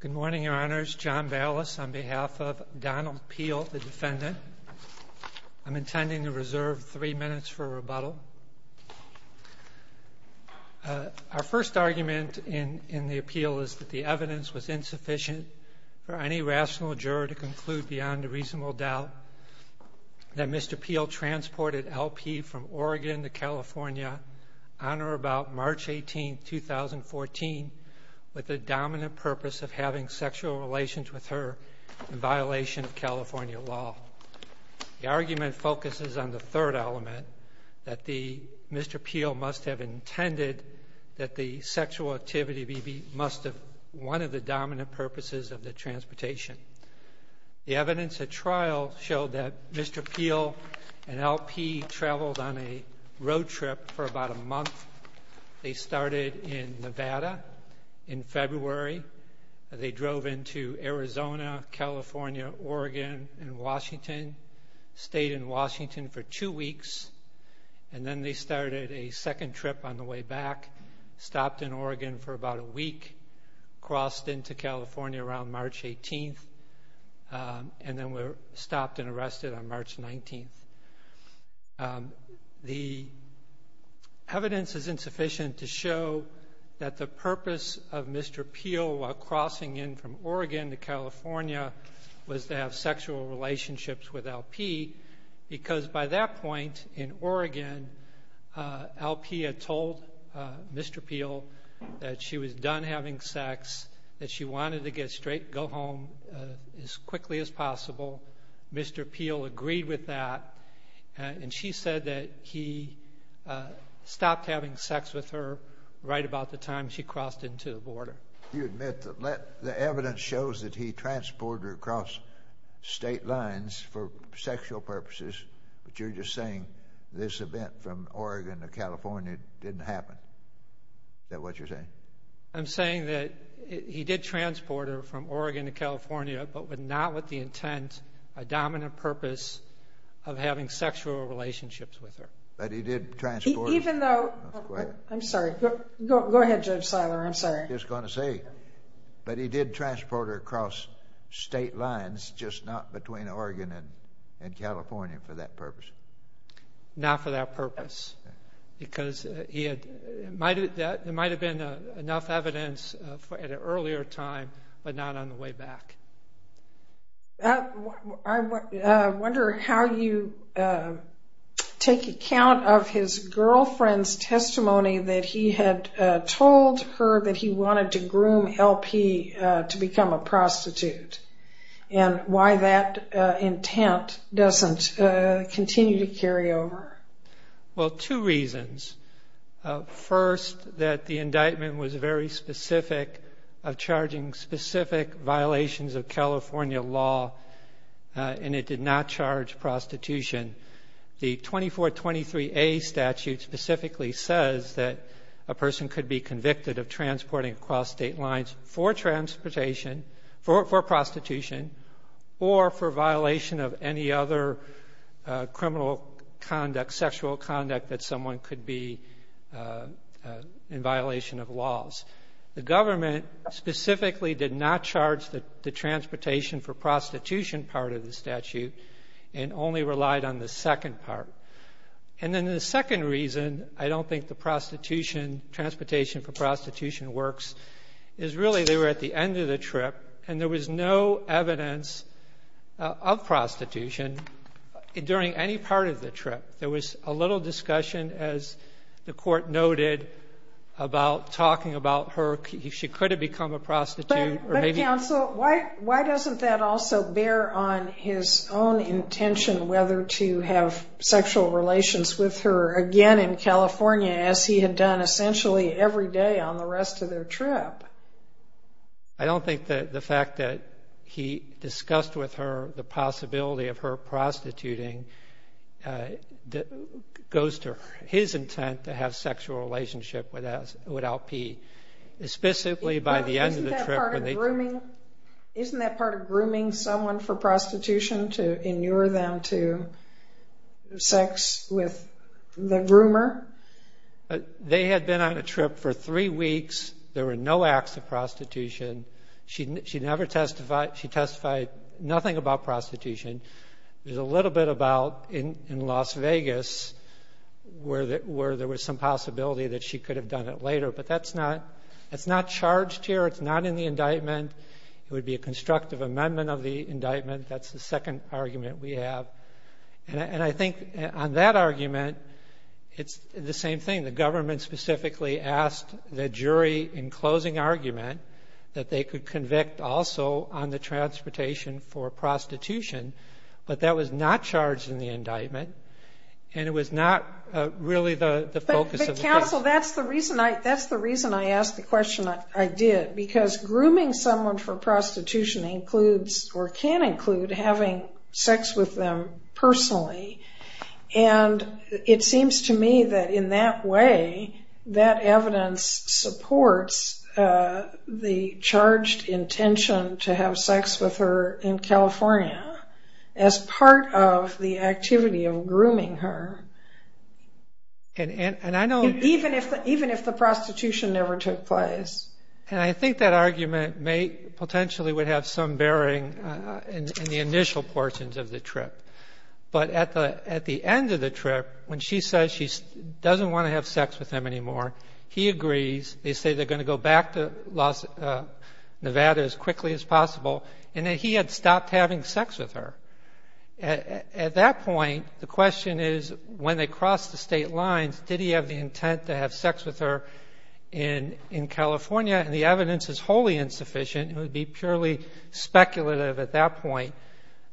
Good morning, Your Honors. John Ballas on behalf of Donald Peel, the defendant. I'm intending to reserve three minutes for rebuttal. Our first argument in the appeal is that the evidence was insufficient for any rational juror to conclude beyond a reasonable doubt that Mr. Peel transported LP from Oregon to California on or about March 18, 2014 with the dominant purpose of having sexual relations with her in violation of California law. The argument focuses on the third element that the Mr. Peel must have intended that the sexual activity be must have one of the dominant purposes of the transportation. The evidence at trial showed that Mr. Peel arrived in Nevada in February. They drove into Arizona, California, Oregon and Washington, stayed in Washington for two weeks, and then they started a second trip on the way back, stopped in Oregon for about a week, crossed into California around March 18th, and then were stopped and arrested on March 19th. The evidence is insufficient to show that the purpose of Mr. Peel while crossing in from Oregon to California was to have sexual relationships with LP, because by that point in Oregon LP had told Mr. Peel that she was done having sex, that she wanted to go home as quickly as possible. Mr. Peel agreed with that and she said that he stopped having sex with her right about the time she crossed into the border. You admit that the evidence shows that he transported her across state lines for sexual purposes, but you're just saying this event from Oregon to California didn't happen. Is that what you're saying? I'm saying that he did transport her from Oregon to California, but not with the intent, a dominant purpose, of having sexual relationships with her. But he did transport her? Even though... I'm sorry. Go ahead, Judge Seiler. I'm sorry. I was going to say, but he did transport her across state lines, just not between Oregon and California for that purpose. Not for that purpose, because there might have been enough evidence at an earlier time, but not on the way back. I wonder how you take account of his girlfriend's testimony that he had told her that he wanted to groom LP to become a prostitute, and why that intent doesn't continue to carry over. Well, two reasons. First, that the indictment was very specific of charging specific violations of California law, and it did not charge prostitution. The 2423A statute specifically says that a person could be convicted of transporting across state lines for prostitution, or for violation of any other criminal conduct, sexual conduct, that someone could be in violation of laws. The government specifically did not charge the transportation for prostitution part of the statute, and only relied on the second part. And then the second reason, I don't think the transportation for prostitution works, is really they were at the end of the trip, and there was no evidence of prostitution during any part of the trip. There was a little discussion, as the court noted, about talking about her. She could have become a prostitute. But counsel, why doesn't that also bear on his own intention whether to have sexual relations with her again in California, as he had done essentially every day on the rest of their trip? I don't think that the fact that he discussed with her the possibility of her prostituting goes to his intent to have sexual relationship with LP. Isn't that part of grooming someone for prostitution, to inure them to sex with the groomer? They had been on a trip for three weeks. There were no acts of prostitution. She testified nothing about prostitution. There's a little bit about in Las Vegas where there was some possibility that she could have done it later. But that's not charged here. It's not in the indictment. It would be a constructive amendment of the indictment. That's the second argument we have. And I think on that argument, it's the same thing. The government specifically asked the jury in closing argument that they could convict also on the transportation for prostitution. But that was not charged in the indictment. And it was not really the focus of the case. But counsel, that's the reason I asked the question I did. Because grooming someone for prostitution includes or can include having sex with them personally. And it seems to me that in that way, that evidence supports the charged intention to have sex with her in California as part of the activity of grooming her. Even if the prostitution never took place. And I think that argument potentially would have some bearing in the initial portions of the trip. But at the end of the trip, when she says she doesn't want to have sex with him anymore, he agrees. They say they're going to go back to Nevada as quickly as possible. And that he had stopped having sex with her. At that point, the question is when they cross the state lines, did he have the intent to have sex with her in California? And the evidence is wholly insufficient. It would be purely speculative at that point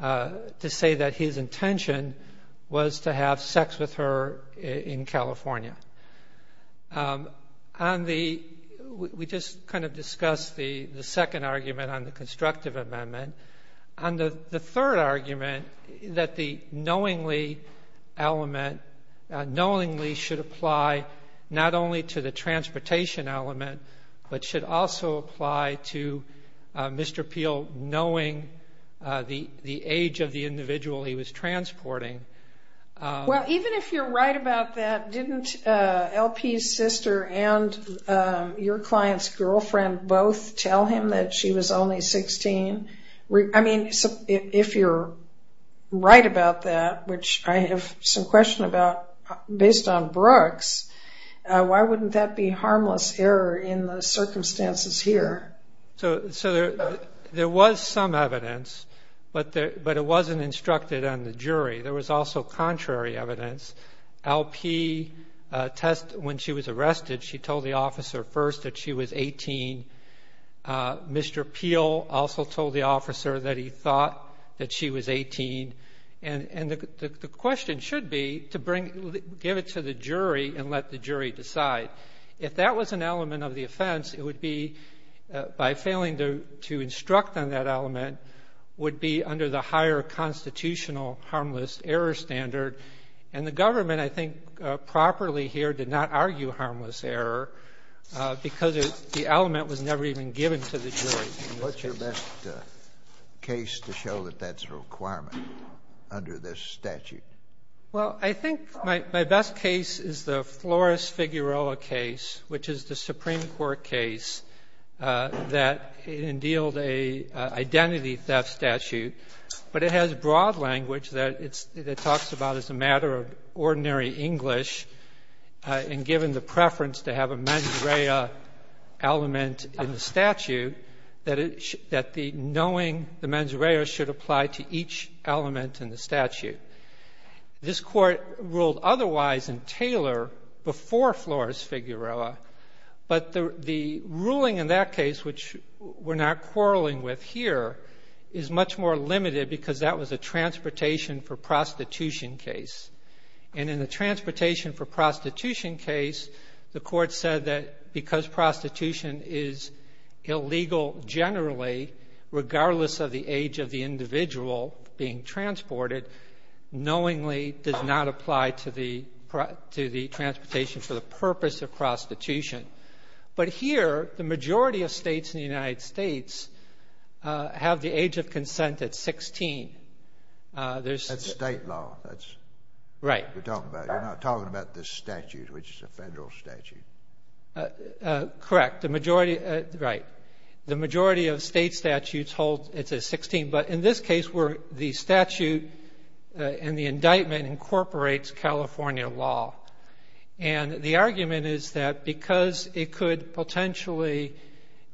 to say that his intention was to have sex with her in California. We just kind of discussed the second argument on the constructive amendment. On the third argument, that the knowingly element, knowingly should apply not only to the transportation element, but should also apply to Mr. Peel knowing the age of the individual he was transporting. Well, even if you're right about that, didn't LP's sister and your client's girlfriend both tell him that she was only 16? I mean, if you're right about that, which I have some question about based on Brooks, why wouldn't that be harmless error in the circumstances here? So there was some evidence, but it wasn't instructed on the jury. There was also contrary evidence. LP, when she was arrested, she told the officer first that she was 18. Mr. Peel also told the officer that he thought that she was 18. And the question should be to give it to the jury and let the jury decide. If that was an element of the offense, it would be, by failing to instruct on that element, would be under the higher constitutional harmless error standard. And the government, I think, properly here did not argue harmless error because the element was never even given to the jury. And what's your best case to show that that's a requirement under this statute? Well, I think my best case is the Flores-Figueroa case, which is the Supreme Court case that endealed an identity theft statute. But it has broad language that it talks about as a matter of ordinary English, and given the preference to have a mens rea element in the statute, that the knowing the mens rea should apply to each element in the statute. This Court ruled otherwise in Taylor before Flores-Figueroa, but the ruling in that case, which we're not quarreling with here, is much more limited because that was a transportation for prostitution case. And in the transportation for prostitution case, the Court said that because prostitution is illegal generally, regardless of the age of the individual being transported, knowingly does not apply to the transportation for the purpose of prostitution. But here, the majority of States in the United States have the age of consent at 16. That's State law. Right. You're not talking about the statute, which is a Federal statute. Correct. Right. The majority of State statutes hold it at 16, but in this case where the statute and the indictment incorporates California law. And the argument is that because it could potentially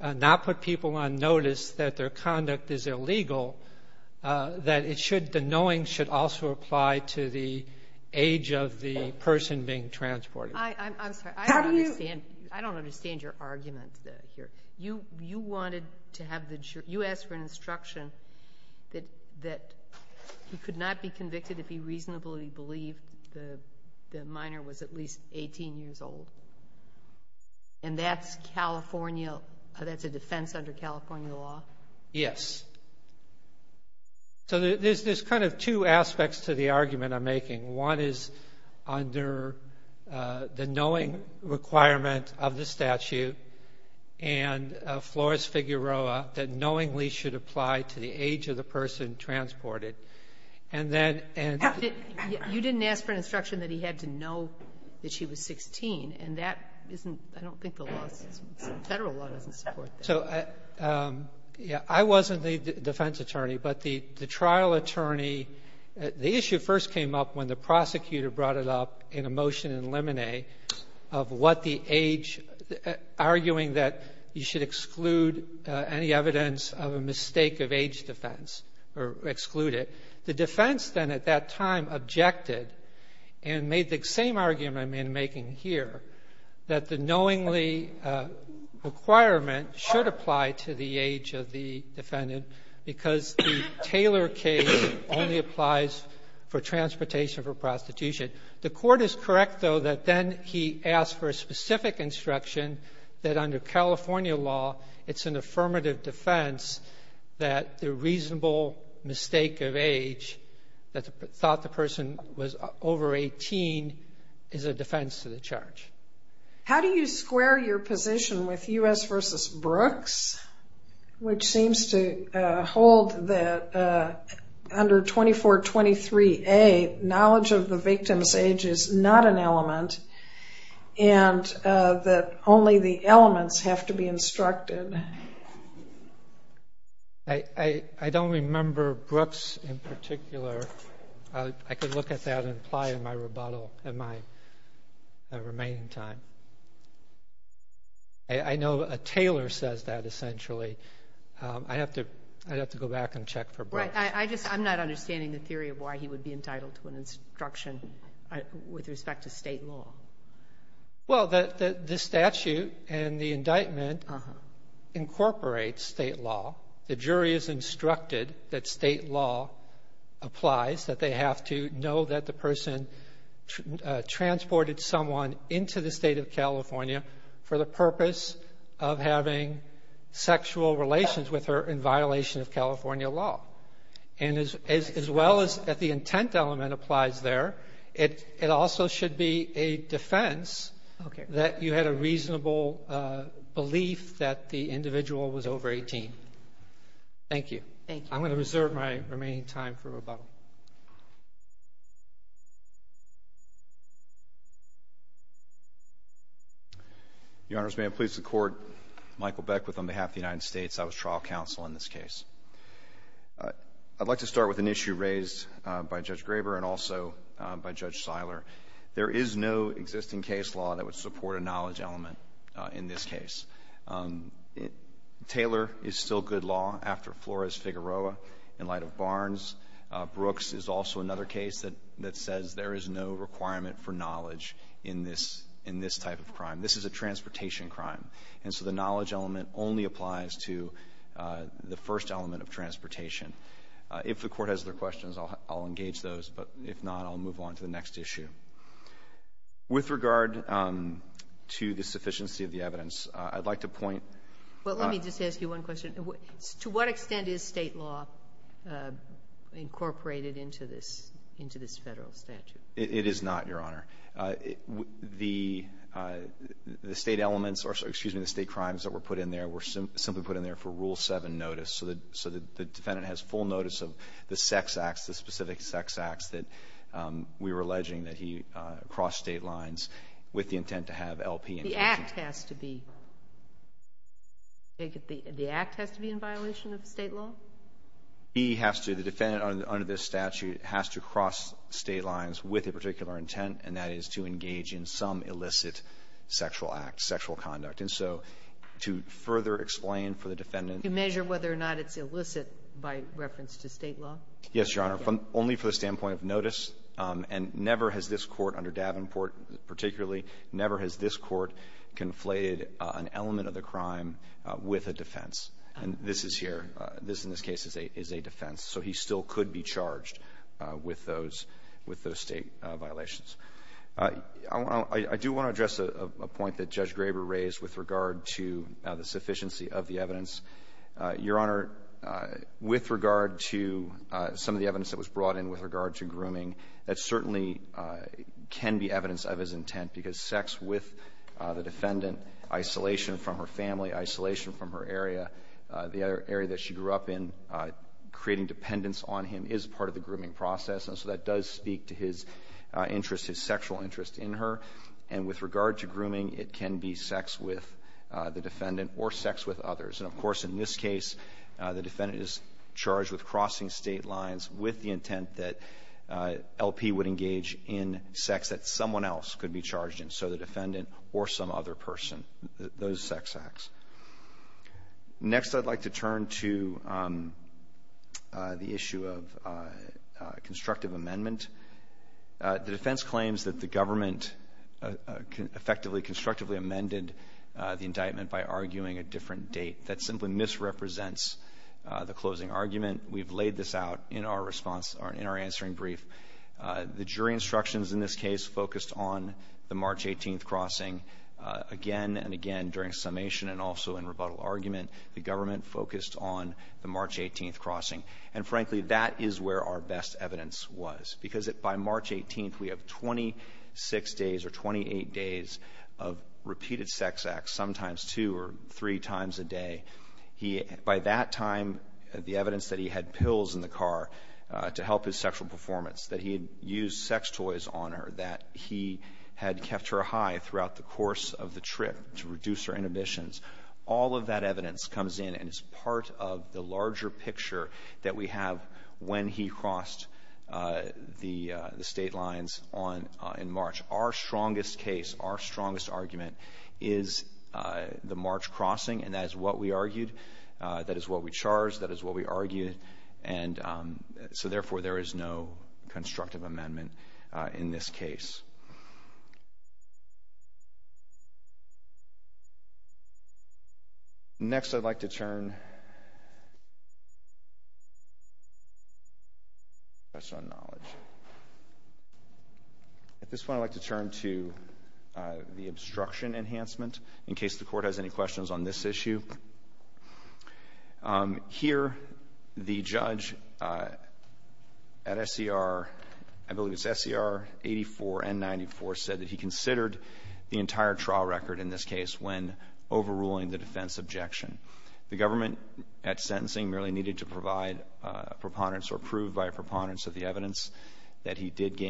not put people on notice that their conduct is illegal, that the knowing should also apply to the age of the person being transported. I'm sorry. How do you? I don't understand your argument here. You asked for an instruction that he could not be convicted if he reasonably believed the minor was at least 18 years old, and that's a defense under California law? Yes. So there's kind of two aspects to the argument I'm making. One is under the knowing requirement of the statute, and Flores-Figueroa, that knowingly should apply to the age of the person transported. And then you didn't ask for an instruction that he had to know that she was 16, and that isn't the law. Federal law doesn't support that. So, yeah, I wasn't the defense attorney, but the trial attorney, the issue first came up when the prosecutor brought it up in a motion in Lemonet of what the age, arguing that you should exclude any evidence of a mistake of age defense or exclude it. The defense then at that time objected and made the same argument I'm making here, that the knowingly requirement should apply to the age of the defendant because the Taylor case only applies for transportation for prostitution. The Court is correct, though, that then he asked for a specific instruction that under California law it's an affirmative defense that the reasonable mistake of age that thought the person was over 18 is a defense to the charge. How do you square your position with U.S. v. Brooks, which seems to hold that under 2423A knowledge of the victim's age is not an element and that only the elements have to be instructed? I don't remember Brooks in particular. I could look at that and apply in my rebuttal in my remaining time. I know Taylor says that essentially. I'd have to go back and check for Brooks. Right. I'm not understanding the theory of why he would be entitled to an instruction with respect to State law. Well, the statute and the indictment incorporate State law. The jury is instructed that State law applies, that they have to know that the person transported someone into the State of California for the purpose of having sexual relations with her in violation of California law. And as well as the intent element applies there, it also should be a defense that you had a reasonable belief that the individual was over 18. Thank you. Thank you. I'm going to reserve my remaining time for rebuttal. Your Honors, may it please the Court, Michael Beckwith on behalf of the United States Department of Justice. I'd like to start with an issue raised by Judge Graber and also by Judge Seiler. There is no existing case law that would support a knowledge element in this case. Taylor is still good law after Flores-Figueroa in light of Barnes. Brooks is also another case that says there is no requirement for knowledge in this type of crime. This is a transportation crime. And so the knowledge element only applies to the first element of transportation. If the Court has other questions, I'll engage those. But if not, I'll move on to the next issue. With regard to the sufficiency of the evidence, I'd like to point out to what extent is State law incorporated into this Federal statute? It is not, Your Honor. The State elements or, excuse me, the State crimes that were put in there were simply put in there for Rule 7 notice. So the defendant has full notice of the sex acts, the specific sex acts that we were alleging that he crossed State lines with the intent to have LP engaged. The act has to be in violation of State law? He has to. The defendant under this statute has to cross State lines with a particular intent, and that is to engage in some illicit sexual act, sexual conduct. And so to further explain for the defendant to measure whether or not it's illicit by reference to State law? Yes, Your Honor, only for the standpoint of notice. And never has this Court under Davenport particularly, never has this Court conflated an element of the crime with a defense. And this is here. This, in this case, is a defense. So he still could be charged with those State violations. I do want to address a point that Judge Graber raised with regard to the sufficiency of the evidence. Your Honor, with regard to some of the evidence that was brought in with regard to grooming, that certainly can be evidence of his intent, because sex with the defendant, isolation from her family, isolation from her area, the area that she grew up in, creating dependence on him is part of the grooming process. And so that does speak to his interest, his sexual interest in her. And with regard to grooming, it can be sex with the defendant or sex with others. And, of course, in this case, the defendant is charged with crossing State lines with the intent that LP would engage in sex that someone else could be charged in, so the defendant or some other person, those sex acts. Next, I'd like to turn to the issue of constructive amendment. The defense claims that the government effectively constructively amended the indictment by arguing a different date. That simply misrepresents the closing argument. We've laid this out in our response or in our answering brief. The jury instructions in this case focused on the March 18th crossing again and again during summation and also in rebuttal argument. The government focused on the March 18th crossing. And, frankly, that is where our best evidence was, because by March 18th, we have 26 days or 28 days of repeated sex acts, sometimes two or three times a day. By that time, the evidence that he had pills in the car to help his sexual performance, that he had used sex toys on her, that he had kept her high throughout the course of the trip to reduce her inhibitions, all of that evidence comes in, and it's part of the larger picture that we have when he crossed the state lines in March. Our strongest case, our strongest argument is the March crossing, and that is what we argued. That is what we charged. That is what we argued. And so, therefore, there is no constructive amendment in this case. Next, I'd like to turn to the obstruction enhancement, in case the court has any questions on this issue. Here, the judge at SCR, I believe it's SCR 84 and 94, said that he considered the entire trial record in this case when overruling the defense objection. The government at sentencing merely needed to provide a preponderance or prove by a preponderance of the evidence that he did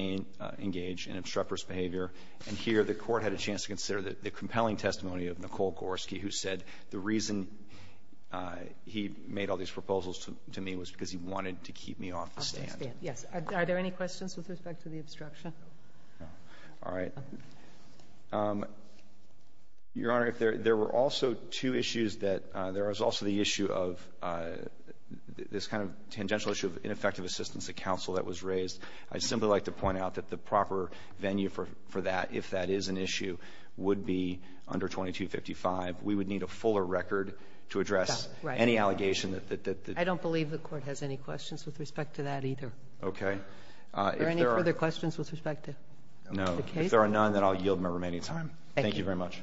engage in obstreperous behavior. And here, the court had a chance to consider the compelling testimony of Nicole Gorski, who said the reason he made all these proposals to me was because he wanted to keep me off the stand. Yes. Are there any questions with respect to the obstruction? No. All right. Your Honor, there were also two issues that there was also the issue of this kind of tangential issue of ineffective assistance to counsel that was raised. I'd simply like to point out that the proper venue for that, if that is an issue, would be under 2255. We would need a fuller record to address any allegation that the ---- I don't believe the Court has any questions with respect to that, either. Okay. Are there any further questions with respect to the case? No. If there are none, then I'll yield my remaining time. Thank you. Thank you very much.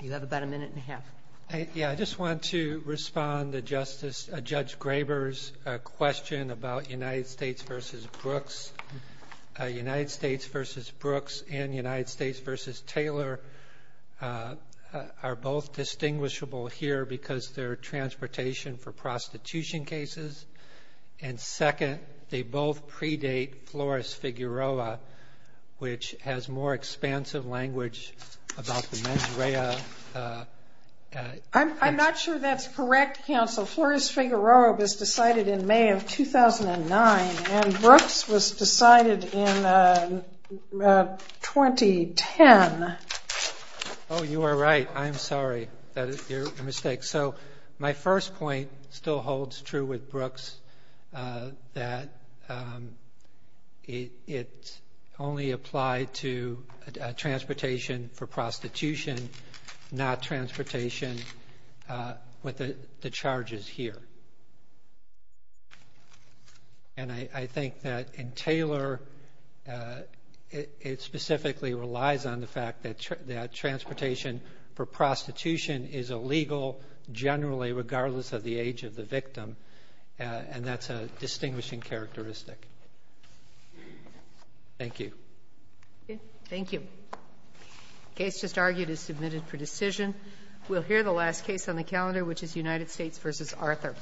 You have about a minute and a half. I just want to respond to Judge Graber's question about United States v. Brooks. United States v. Brooks and United States v. Taylor are both distinguishable here because their transportation for prostitution cases. And second, they both predate Flores-Figueroa, which has more expansive language about the mens rea. I'm not sure that's correct, counsel. Flores-Figueroa was decided in May of 2009, and Brooks was decided in 2010. Oh, you are right. I am sorry. That is your mistake. So my first point still holds true with Brooks, that it only applied to transportation for prostitution, not transportation with the charges here. And I think that in Taylor, it specifically relies on the fact that transportation for prostitution is illegal generally, regardless of the age of the victim, and that's a distinguishing characteristic. Thank you. Thank you. The case just argued is submitted for decision. We'll hear the last case on the calendar, which is United States v. Arthur.